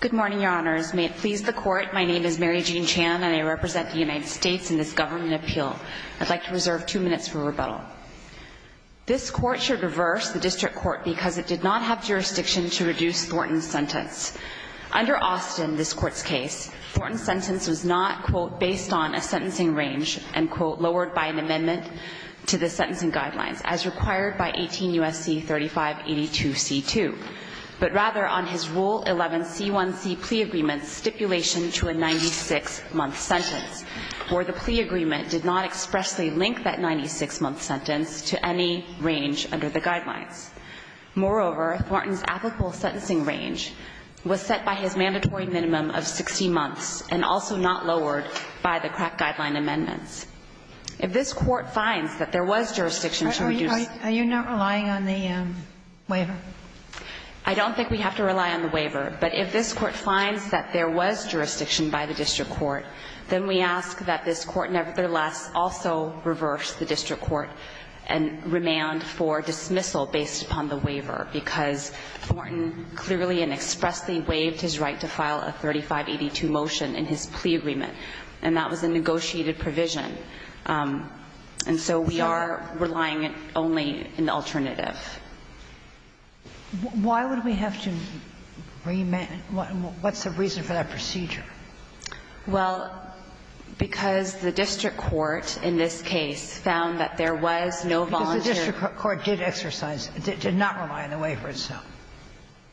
Good morning, Your Honors. May it please the Court, my name is Mary Jean Chan and I represent the United States in this government appeal. I'd like to reserve two minutes for rebuttal. This Court should reverse the District Court because it did not have jurisdiction to reduce Thornton's sentence. Under Austin, this Court's case, Thornton's sentence was not, quote, based on a sentencing range and, quote, lowered by an amendment to the sentencing guidelines, as required by 18 U.S.C. 3582 C.2, but rather on his Rule 11 C.1.C. plea agreement's stipulation to a 96-month sentence, where the plea agreement did not expressly link that 96-month sentence to any range under the guidelines. Moreover, Thornton's applicable sentencing range was set by his mandatory minimum of 60 months and also not lowered by the crack guideline amendments. If this Court finds that there was jurisdiction to reduce – Are you not relying on the waiver? I don't think we have to rely on the waiver, but if this Court finds that there was jurisdiction by the District Court, then we ask that this Court nevertheless also reverse the District Court and remand for dismissal based upon the waiver, because Thornton clearly and expressly waived his right to file a 3582 motion in his plea agreement, and that was a negotiated provision. And so we are relying only in the alternative. Why would we have to remand? What's the reason for that procedure? Well, because the District Court in this case found that there was no volunteer – Because the District Court did exercise – did not rely on the waiver itself.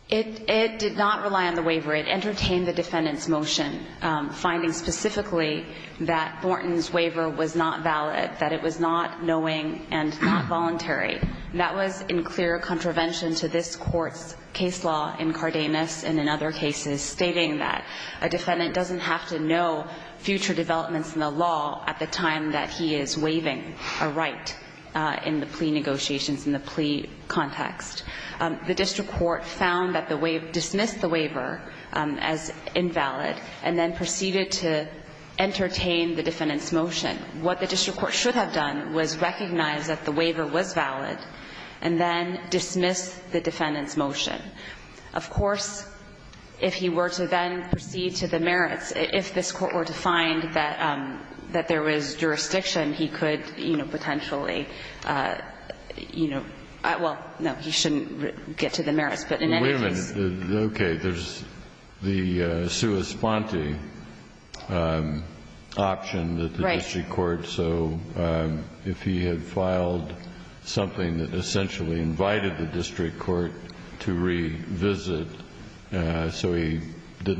It did not rely on the waiver. It entertained the defendant's motion, finding specifically that Thornton's waiver was not valid, that it was not knowing and not voluntary. That was in clear contravention to this Court's case law in Cardenas and in other cases, stating that a defendant doesn't have to know future developments in the law at the time that he is waiving a right in the plea negotiations, in the plea context. The District Court found that the waiver – dismissed the waiver as invalid and then proceeded to entertain the defendant's motion. What the District Court should have done was recognize that the waiver was valid and then dismiss the defendant's motion. Of course, if he were to then proceed to the merits, if this Court were to find that there was jurisdiction, he could, you know, potentially, you know – well, no, he shouldn't get to the merits. But in any case – Wait a minute. Okay. There's the sua sponte option that the District Court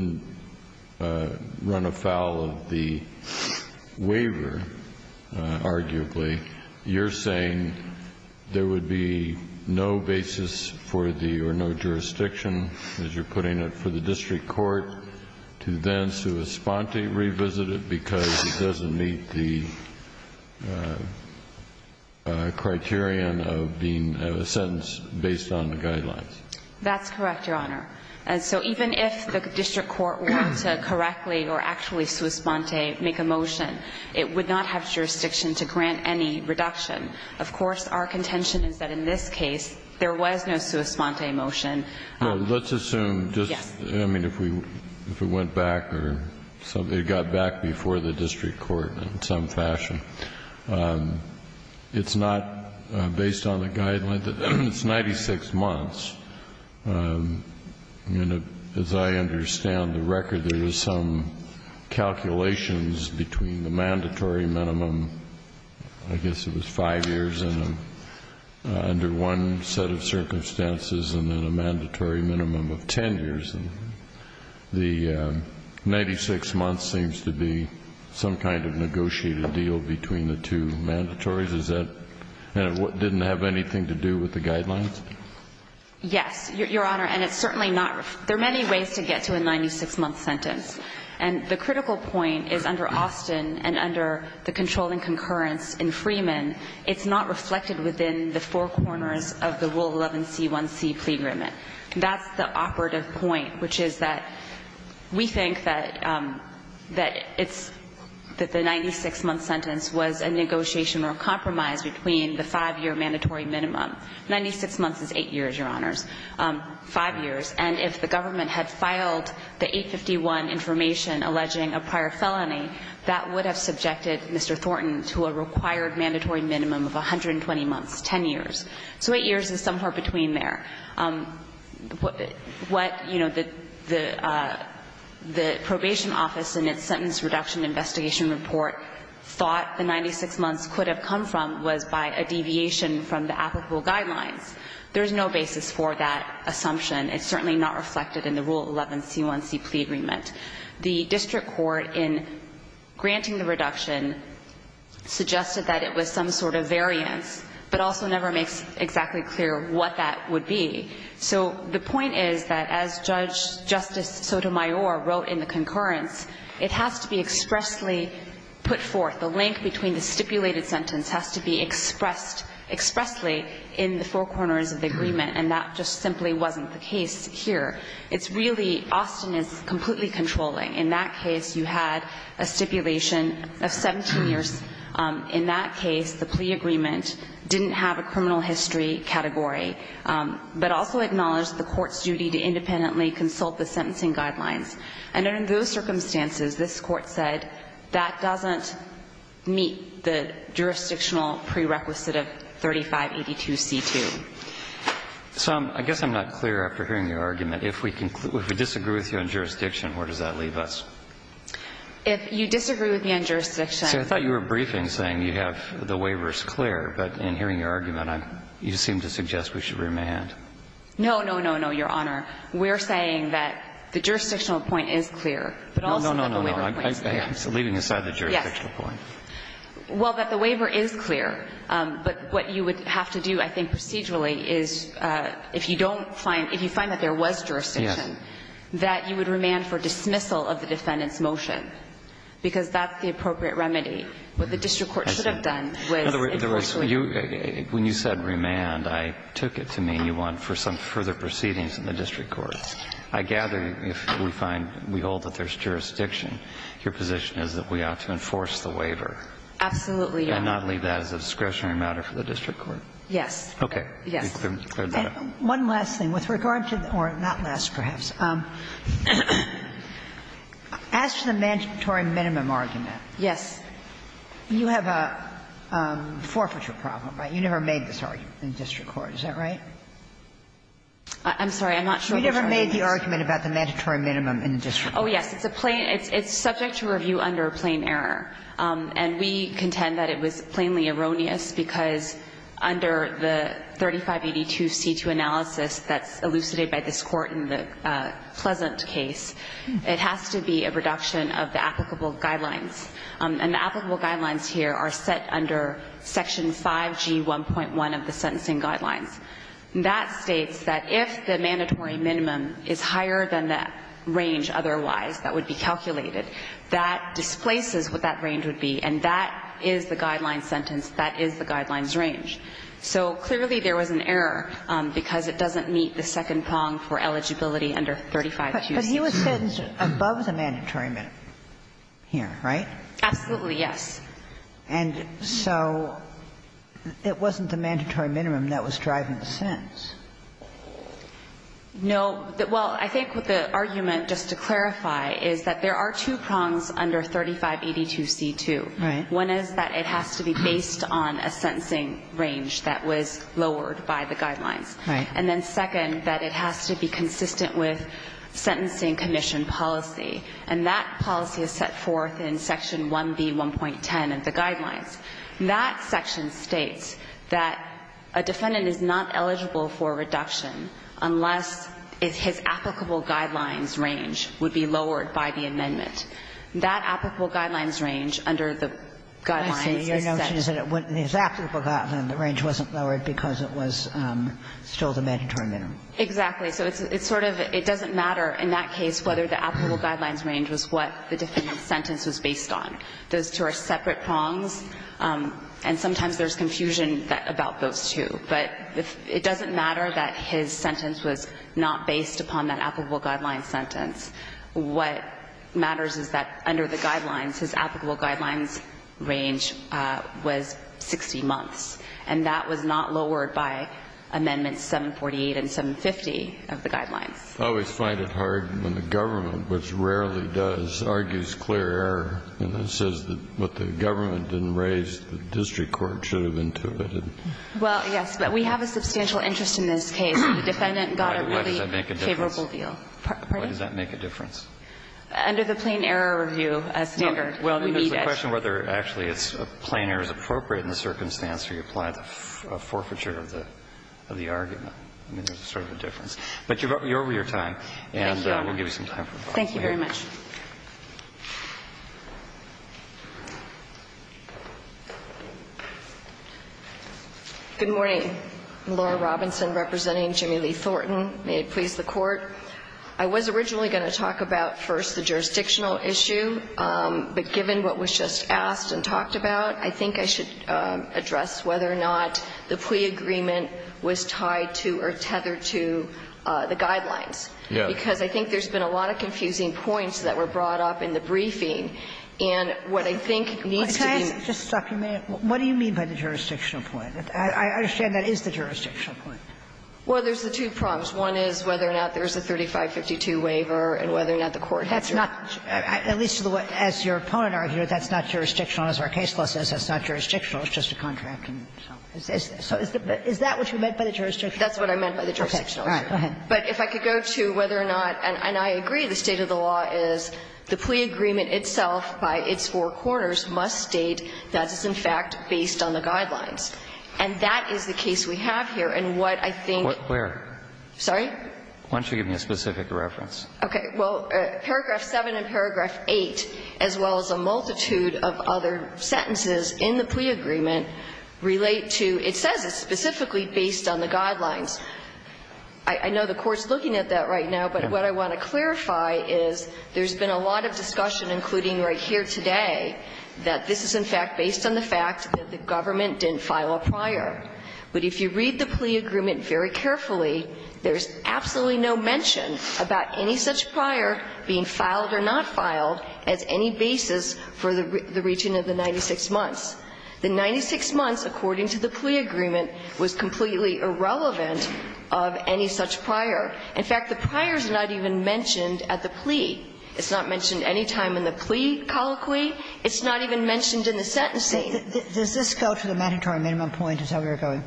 – Right. – run afoul of the waiver, arguably. You're saying there would be no basis for the – or no jurisdiction, as you're putting it, for the District Court to then sua sponte revisit it because it doesn't meet the criterion of being a sentence based on the guidelines. That's correct, Your Honor. And so even if the District Court were to correctly or actually sua sponte make a motion, it would not have jurisdiction to grant any reduction. Of course, our contention is that in this case, there was no sua sponte motion. Well, let's assume just – Yes. I mean, if we went back or something – it got back before the District Court in some fashion. It's not based on the guidelines. It's 96 months. And as I understand the record, there is some calculations between the mandatory minimum – I guess it was 5 years under one set of circumstances and then a mandatory minimum of 10 years. The 96 months seems to be some kind of negotiated deal between the two mandatories. Is that – and it didn't have anything to do with the guidelines? Yes, Your Honor. And it's certainly not – there are many ways to get to a 96-month sentence. And the critical point is under Austin and under the controlling concurrence in Freeman, it's not reflected within the four corners of the Rule 11c1c plea agreement. That's the operative point, which is that we think that it's – that the 96-month sentence was a negotiation or a compromise between the 5-year mandatory minimum. 96 months is 8 years, Your Honors, 5 years. And if the government had filed the 851 information alleging a prior felony, that would have subjected Mr. Thornton to a required mandatory minimum of 120 months, 10 years. So 8 years is somewhere between there. What, you know, the probation office in its sentence reduction investigation report thought the 96 months could have come from was by a deviation from the applicable guidelines. There's no basis for that assumption. It's certainly not reflected in the Rule 11c1c plea agreement. The district court in granting the reduction suggested that it was some sort of variance, but also never makes exactly clear what that would be. So the point is that as Judge Justice Sotomayor wrote in the concurrence, it has to be expressly put forth. The link between the stipulated sentence has to be expressed expressly in the four corners of the agreement. And that just simply wasn't the case here. It's really, Austin is completely controlling. In that case, you had a stipulation of 17 years. In that case, the plea agreement didn't have a criminal history category, but also acknowledged the court's duty to independently consult the sentencing guidelines. And under those circumstances, this Court said that doesn't meet the jurisdictional prerequisite of 3582c2. So I guess I'm not clear after hearing your argument. If we disagree with you on jurisdiction, where does that leave us? If you disagree with me on jurisdiction. See, I thought you were briefing, saying you have the waivers clear. But in hearing your argument, you seem to suggest we should remand. No, no, no, no, Your Honor. We're saying that the jurisdictional point is clear. No, no, no, no. Leaving aside the jurisdictional point. Yes. Well, that the waiver is clear. But what you would have to do, I think, procedurally, is if you don't find, if you find that there was jurisdiction. Yes. That you would remand for dismissal of the defendant's motion. Because that's the appropriate remedy. What the district court should have done was, unfortunately. When you said remand, I took it to mean you want for some further proceedings in the district court. I gather if we find, we hold that there's jurisdiction, your position is that we ought to enforce the waiver. Absolutely, Your Honor. We cannot leave that as a discretionary matter for the district court. Yes. Okay. Yes. One last thing. With regard to, or not last, perhaps. As to the mandatory minimum argument. Yes. You have a forfeiture problem, right? You never made this argument in the district court. Is that right? I'm sorry. I'm not sure. You never made the argument about the mandatory minimum in the district court. Oh, yes. It's a plain. It's subject to review under plain error. And we contend that it was plainly erroneous because under the 3582C2 analysis that's elucidated by this court in the Pleasant case, it has to be a reduction of the applicable guidelines. And the applicable guidelines here are set under section 5G1.1 of the sentencing guidelines. That states that if the mandatory minimum is higher than the range otherwise that would be calculated, that displaces what that range would be, and that is the guidelines sentence, that is the guidelines range. So clearly there was an error because it doesn't meet the second prong for eligibility under 3582C2. But he was sentenced above the mandatory minimum here, right? Absolutely, yes. No. Well, I think the argument, just to clarify, is that there are two prongs under 3582C2. Right. One is that it has to be based on a sentencing range that was lowered by the guidelines. Right. And then second, that it has to be consistent with sentencing commission policy. And that policy is set forth in section 1B1.10 of the guidelines. That section states that a defendant is not eligible for reduction unless his applicable guidelines range would be lowered by the amendment. That applicable guidelines range under the guidelines is set. I see. Your notion is that when it was applicable guidelines, the range wasn't lowered because it was still the mandatory minimum. Exactly. So it's sort of, it doesn't matter in that case whether the applicable guidelines range was what the defendant's sentence was based on. Those two are separate prongs, and sometimes there's confusion about those two. But it doesn't matter that his sentence was not based upon that applicable guidelines sentence. What matters is that under the guidelines, his applicable guidelines range was 60 months, and that was not lowered by amendments 748 and 750 of the guidelines. I always find it hard when the government, which rarely does, argues clear error and says that what the government didn't raise, the district court should have intuited. Well, yes. But we have a substantial interest in this case. The defendant got a really favorable deal. Why does that make a difference? Pardon me? Why does that make a difference? Under the plain error review standard. No. Well, we need it. I mean, there's a question whether actually it's plain error is appropriate in the circumstance where you apply the forfeiture of the argument. I mean, there's sort of a difference. But you're over your time. Thank you, Your Honor. And we'll give you some time for questions. Thank you very much. Good morning. I'm Laura Robinson representing Jimmy Lee Thornton. May it please the Court. I was originally going to talk about first the jurisdictional issue. But given what was just asked and talked about, I think I should address whether or not the plea agreement was tied to or tethered to the guidelines. Yes. Because I think there's been a lot of confusing points that were brought up in the briefing. And what I think needs to be ---- Can I just stop you a minute? What do you mean by the jurisdictional point? I understand that is the jurisdictional point. Well, there's the two problems. One is whether or not there's a 3552 waiver and whether or not the court has to ---- That's not, at least as your opponent argued, that's not jurisdictional. As our case law says, that's not jurisdictional. It's just a contract. So is that what you meant by the jurisdictional point? That's what I meant by the jurisdictional point. Go ahead. But if I could go to whether or not, and I agree the state of the law is the plea agreement itself by its four corners must state that it's in fact based on the guidelines. And that is the case we have here. And what I think ---- Where? Sorry? Why don't you give me a specific reference? Okay. Well, paragraph 7 and paragraph 8, as well as a multitude of other sentences in the plea agreement, relate to ---- it says it's specifically based on the guidelines. I know the Court's looking at that right now, but what I want to clarify is there's been a lot of discussion, including right here today, that this is in fact based on the fact that the government didn't file a prior. But if you read the plea agreement very carefully, there's absolutely no mention about any such prior being filed or not filed as any basis for the reaching of the 96 months. The 96 months, according to the plea agreement, was completely irrelevant of any such prior. In fact, the prior is not even mentioned at the plea. It's not mentioned any time in the plea colloquy. It's not even mentioned in the sentencing. Does this go to the mandatory minimum point, is how we are going?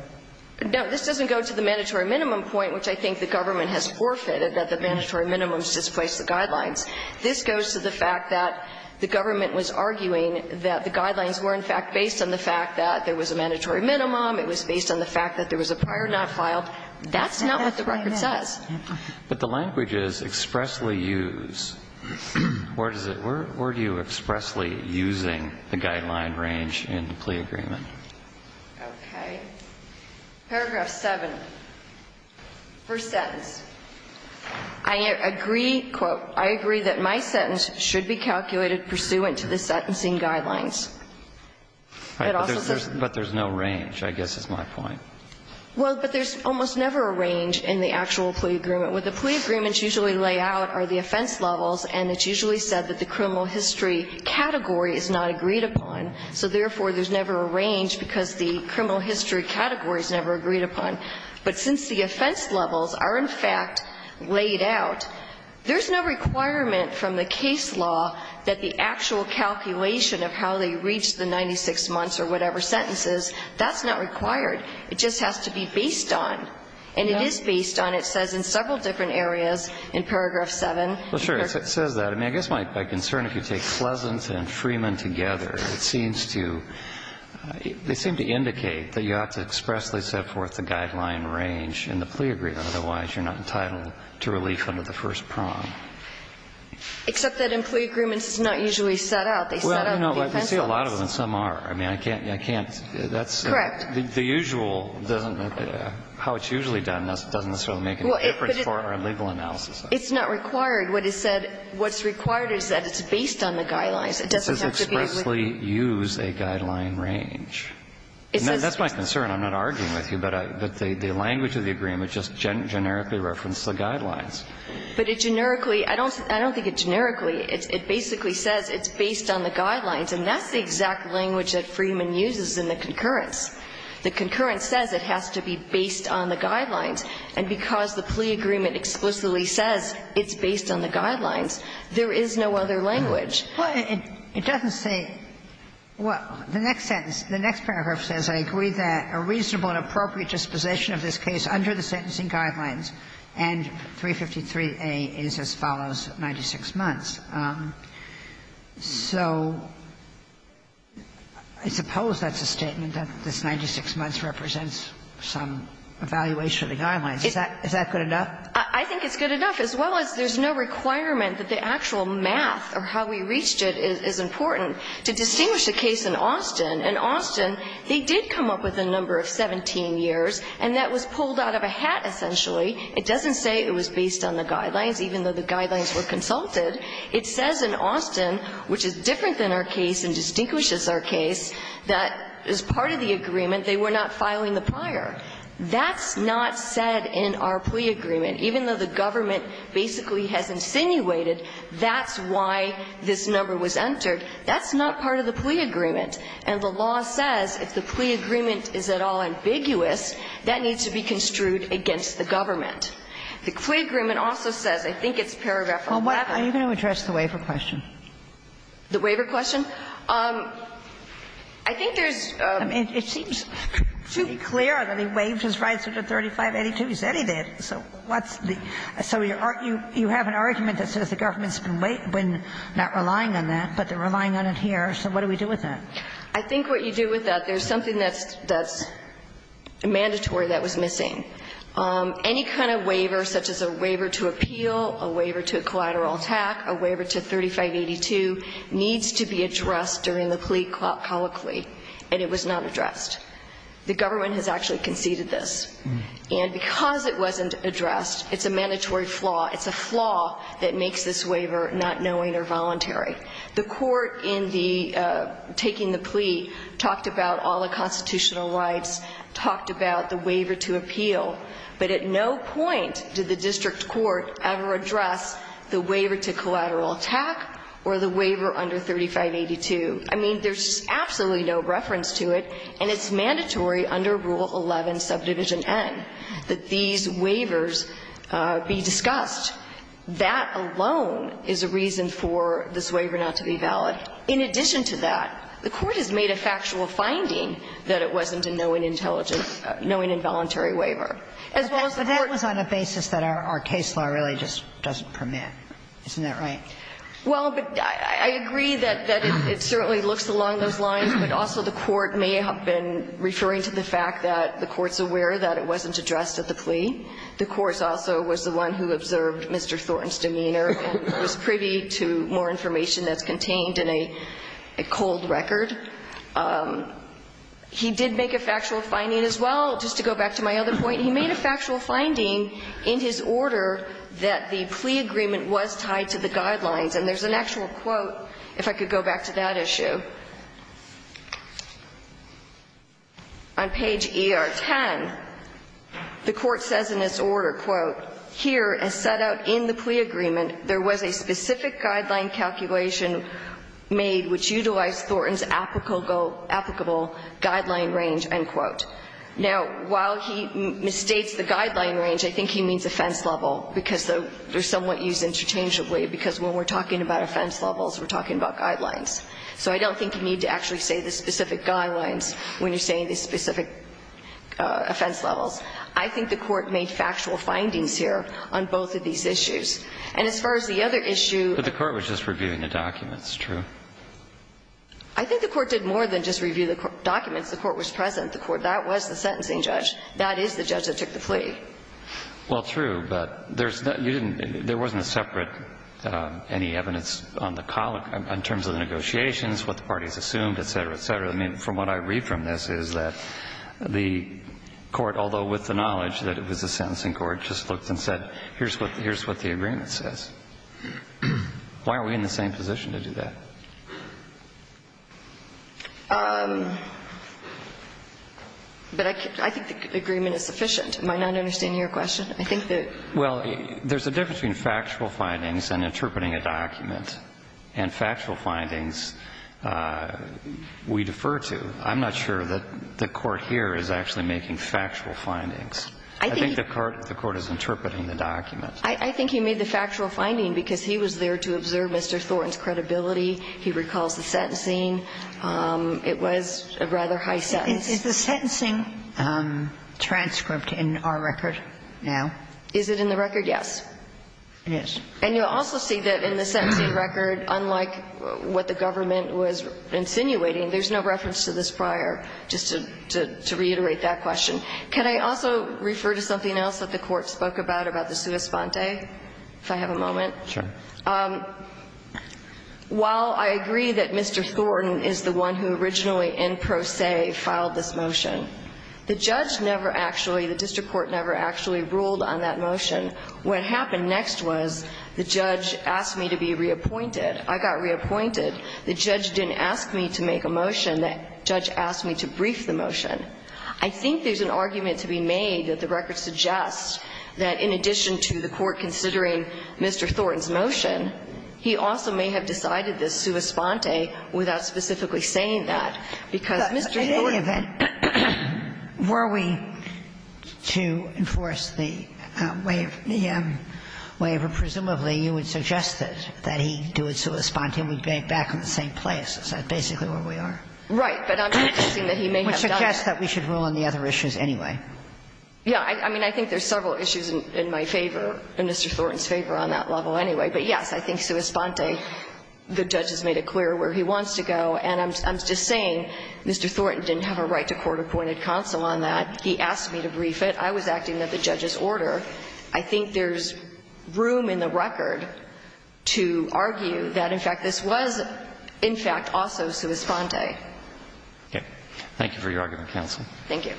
No. This doesn't go to the mandatory minimum point, which I think the government has forfeited, that the mandatory minimums just place the guidelines. This goes to the fact that the government was arguing that the guidelines were in fact based on the fact that there was a mandatory minimum, it was based on the fact that there was a prior not filed. That's not what the record says. But the language is expressly used. Where do you expressly using the guideline range in the plea agreement? Okay. Paragraph 7. First sentence. I agree, quote, I agree that my sentence should be calculated pursuant to the sentencing guidelines. But there's no range, I guess is my point. Well, but there's almost never a range in the actual plea agreement. What the plea agreements usually lay out are the offense levels, and it's usually said that the criminal history category is not agreed upon. So therefore, there's never a range because the criminal history category is never agreed upon. But since the offense levels are, in fact, laid out, there's no requirement from the case law that the actual calculation of how they reached the 96 months or whatever sentences, that's not required. It just has to be based on. And it is based on. It says in several different areas in paragraph 7. Well, sure. It says that. I mean, I guess my concern, if you take Pleasant and Freeman together, it seems to you, they seem to indicate that you have to expressly set forth the guideline range in the plea agreement. Otherwise, you're not entitled to relief under the first prong. Except that in plea agreements, it's not usually set out. They set out the offense levels. Well, I see a lot of them, and some are. I mean, I can't, I can't, that's. Correct. The usual doesn't, how it's usually done doesn't necessarily make any difference for our legal analysis. It's not required. What is said, what's required is that it's based on the guidelines. It doesn't have to be. It says expressly use a guideline range. It says. That's my concern. I'm not arguing with you, but the language of the agreement just generically references the guidelines. But it generically, I don't think it generically. It basically says it's based on the guidelines. And that's the exact language that Freeman uses in the concurrence. The concurrence says it has to be based on the guidelines. And because the plea agreement explicitly says it's based on the guidelines, there is no other language. Well, it doesn't say. The next sentence, the next paragraph says, I agree that a reasonable and appropriate disposition of this case under the sentencing guidelines and 353A is as follows 96 months. So I suppose that's a statement that this 96 months represents some evaluation of the guidelines. Is that good enough? I think it's good enough. As well as there's no requirement that the actual math or how we reached it is important to distinguish a case in Austin. In Austin, they did come up with a number of 17 years, and that was pulled out of a hat, essentially. It doesn't say it was based on the guidelines, even though the guidelines were consulted. It says in Austin, which is different than our case and distinguishes our case, that as part of the agreement they were not filing the pliar. That's not said in our plea agreement. Even though the government basically has insinuated that's why this number was entered, that's not part of the plea agreement. And the law says if the plea agreement is at all ambiguous, that needs to be construed against the government. The plea agreement also says, I think it's paragraph 11. Are you going to address the waiver question? The waiver question? I think there's a. I mean, it seems pretty clear that he waived his rights under 3582. He said he did. So what's the. So you have an argument that says the government's been not relying on that, but they're relying on it here. So what do we do with that? I think what you do with that, there's something that's mandatory that was missing. Any kind of waiver, such as a waiver to appeal, a waiver to collateral attack, a waiver to 3582, needs to be addressed during the plea colloquy, and it was not addressed. The government has actually conceded this. And because it wasn't addressed, it's a mandatory flaw. It's a flaw that makes this waiver not knowing or voluntary. The court in the taking the plea talked about all the constitutional rights, talked about the waiver to appeal. But at no point did the district court ever address the waiver to collateral attack or the waiver under 3582. I mean, there's absolutely no reference to it, and it's mandatory under Rule 11, Subdivision N, that these waivers be discussed. That alone is a reason for this waiver not to be valid. In addition to that, the court has made a factual finding that it wasn't a knowing intelligence, knowing involuntary waiver. As well as the court. But that was on a basis that our case law really just doesn't permit. Isn't that right? Well, but I agree that it certainly looks along those lines, but also the court may have been referring to the fact that the court's aware that it wasn't addressed at the plea. The court also was the one who observed Mr. Thornton's demeanor and was privy to more information that's contained in a cold record. He did make a factual finding as well, just to go back to my other point. He made a factual finding in his order that the plea agreement was tied to the guidelines. And there's an actual quote if I could go back to that issue. On page ER10, the court says in its order, quote, here, as set out in the plea agreement, there was a specific guideline calculation made which utilized Thornton's applicable guideline range, end quote. Now, while he misstates the guideline range, I think he means offense level, because they're somewhat used interchangeably, because when we're talking about offense levels, we're talking about guidelines. So I don't think you need to actually say the specific guidelines when you're saying the specific offense levels. I think the court made factual findings here on both of these issues. And as far as the other issue of the court was just reviewing the documents, true? I think the court did more than just review the documents. The court was present. The court that was the sentencing judge, that is the judge that took the plea. Well, true, but there's no you didn't there wasn't a separate any evidence on the negotiations, what the parties assumed, et cetera, et cetera. I mean, from what I read from this is that the court, although with the knowledge that it was a sentencing court, just looked and said, here's what the agreement says. Why aren't we in the same position to do that? But I think the agreement is sufficient. Am I not understanding your question? I think that. Well, there's a difference between factual findings and interpreting a document. And factual findings, we defer to. I'm not sure that the court here is actually making factual findings. I think the court is interpreting the document. I think he made the factual finding because he was there to observe Mr. Thornton's credibility. He recalls the sentencing. It was a rather high sentence. Is the sentencing transcript in our record now? Is it in the record? Yes. And you'll also see that in the sentencing record, unlike what the government was insinuating, there's no reference to this prior, just to reiterate that question. Can I also refer to something else that the court spoke about, about the sua sponte, if I have a moment? Sure. While I agree that Mr. Thornton is the one who originally in pro se filed this motion, the judge never actually, the district court never actually ruled on that motion. What happened next was the judge asked me to be reappointed. I got reappointed. The judge didn't ask me to make a motion. The judge asked me to brief the motion. I think there's an argument to be made that the record suggests that in addition to the court considering Mr. Thornton's motion, he also may have decided this sua sponte without specifically saying that, because Mr. Thornton was the one who made the motion. Sotomayor, presumably you would suggest that he do a sua sponte and we bank back in the same place, is that basically where we are? Right. But I'm suggesting that he may have done it. Which suggests that we should rule on the other issues anyway. Yeah. I mean, I think there's several issues in my favor, in Mr. Thornton's favor on that level anyway. But, yes, I think sua sponte, the judge has made it clear where he wants to go. And I'm just saying Mr. Thornton didn't have a right to court-appointed counsel on that. He asked me to brief it. I was acting at the judge's order. I think there's room in the record to argue that, in fact, this was, in fact, also sua sponte. Okay. Thank you for your argument, counsel. Thank you.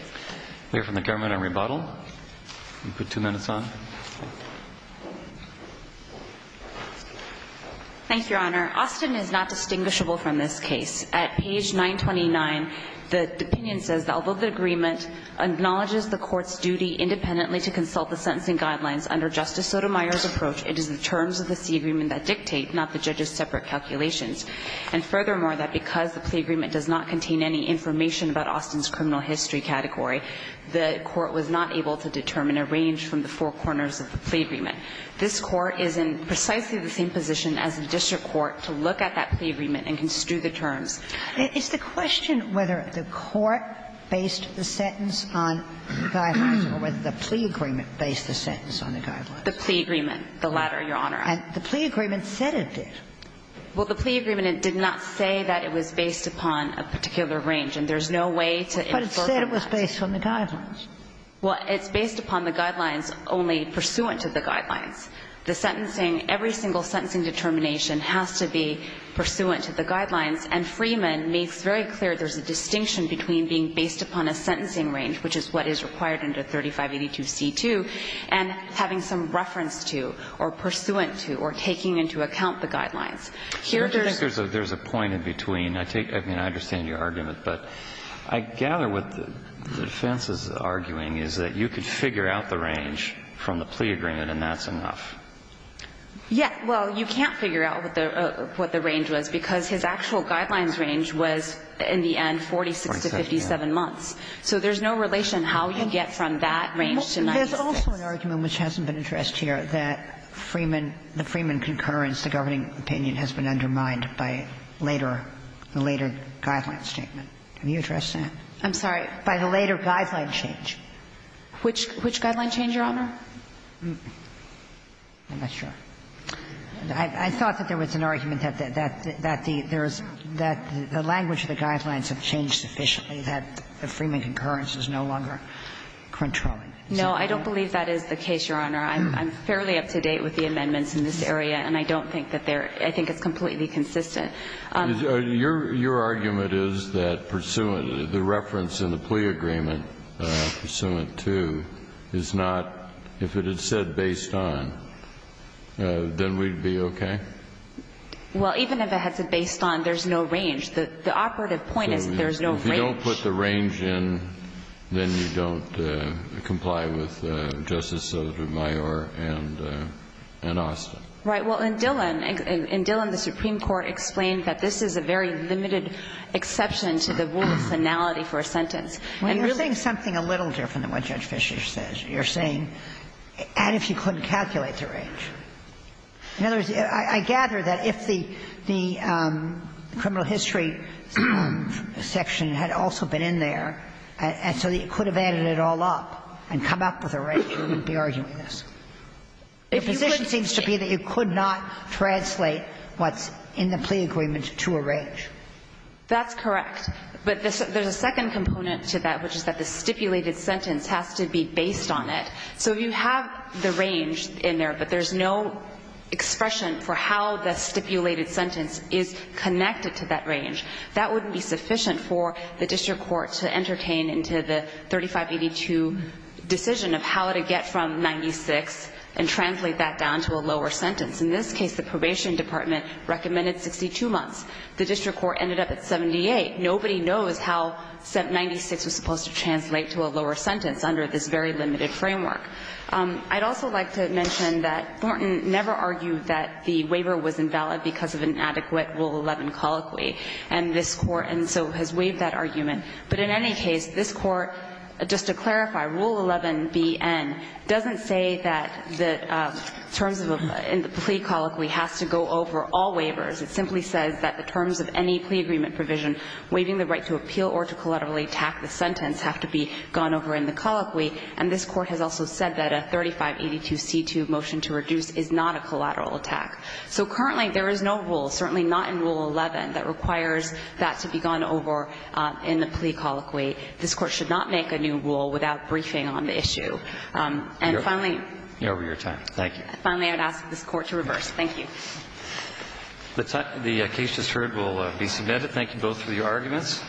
Clear from the government on rebuttal. You can put two minutes on. Thank you, Your Honor. Austin is not distinguishable from this case. At page 929, the opinion says, although the agreement acknowledges the court's sentencing guidelines under Justice Sotomayor's approach, it is the terms of the C agreement that dictate, not the judge's separate calculations. And furthermore, that because the plea agreement does not contain any information about Austin's criminal history category, the court was not able to determine a range from the four corners of the plea agreement. This Court is in precisely the same position as the district court to look at that plea agreement and construe the terms. Is the question whether the court based the sentence on the guidelines or whether the plea agreement based the sentence on the guidelines? The plea agreement. The latter, Your Honor. And the plea agreement said it did. Well, the plea agreement did not say that it was based upon a particular range, and there's no way to infer from that. But it said it was based on the guidelines. Well, it's based upon the guidelines only pursuant to the guidelines. The sentencing, every single sentencing determination has to be pursuant to the guidelines and Freeman makes very clear there's a distinction between being based upon a sentencing range, which is what is required under 3582c2, and having some reference to or pursuant to or taking into account the guidelines. Here there's. There's a point in between. I take, I mean, I understand your argument, but I gather what the defense is arguing is that you could figure out the range from the plea agreement and that's enough. Yeah. Well, you can't figure out what the range was because his actual guidelines range was in the end 46 to 57 months, so there's no relation how you get from that range to 96. There's also an argument which hasn't been addressed here that Freeman, the Freeman concurrence, the governing opinion has been undermined by later, the later guideline statement. Can you address that? I'm sorry. By the later guideline change. Which guideline change, Your Honor? I'm not sure. I thought that there was an argument that the language of the guidelines have changed sufficiently, that the Freeman concurrence is no longer controlling. No, I don't believe that is the case, Your Honor. I'm fairly up to date with the amendments in this area, and I don't think that they're – I think it's completely consistent. Your argument is that pursuant, the reference in the plea agreement pursuant to is not, if it had said based on, then we'd be okay? Well, even if it had said based on, there's no range. The operative point is there's no range. If you don't put the range in, then you don't comply with Justice Sotomayor and Austin. Right. Well, in Dillon, in Dillon, the Supreme Court explained that this is a very limited exception to the rule of finality for a sentence. Well, you're saying something a little different than what Judge Fischer says. You're saying, and if you couldn't calculate the range. In other words, I gather that if the criminal history section had also been in there and so you could have added it all up and come up with a range, you wouldn't be arguing this. The position seems to be that you could not translate what's in the plea agreement to a range. That's correct. But there's a second component to that, which is that the stipulated sentence has to be based on it. So you have the range in there, but there's no expression for how the stipulated sentence is connected to that range. That wouldn't be sufficient for the district court to entertain into the 3582 decision of how to get from 96 and translate that down to a lower sentence. In this case, the probation department recommended 62 months. The district court ended up at 78. Nobody knows how 96 was supposed to translate to a lower sentence under this very limited framework. I'd also like to mention that Thornton never argued that the waiver was invalid because of an inadequate Rule 11 colloquy, and this Court, and so has waived that argument. But in any case, this Court, just to clarify, Rule 11bN doesn't say that the terms in the plea colloquy has to go over all waivers. It simply says that the terms of any plea agreement provision waiving the right to appeal or to collaterally tack the sentence have to be gone over in the colloquy, and this Court has also said that a 3582C2 motion to reduce is not a collateral attack. So currently, there is no rule, certainly not in Rule 11, that requires that to be gone over in the plea colloquy. This Court should not make a new rule without briefing on the issue. And finally — You're over your time. Thank you. Finally, I'd ask this Court to reverse. Thank you. The case just heard will be submitted. Thank you both for your arguments.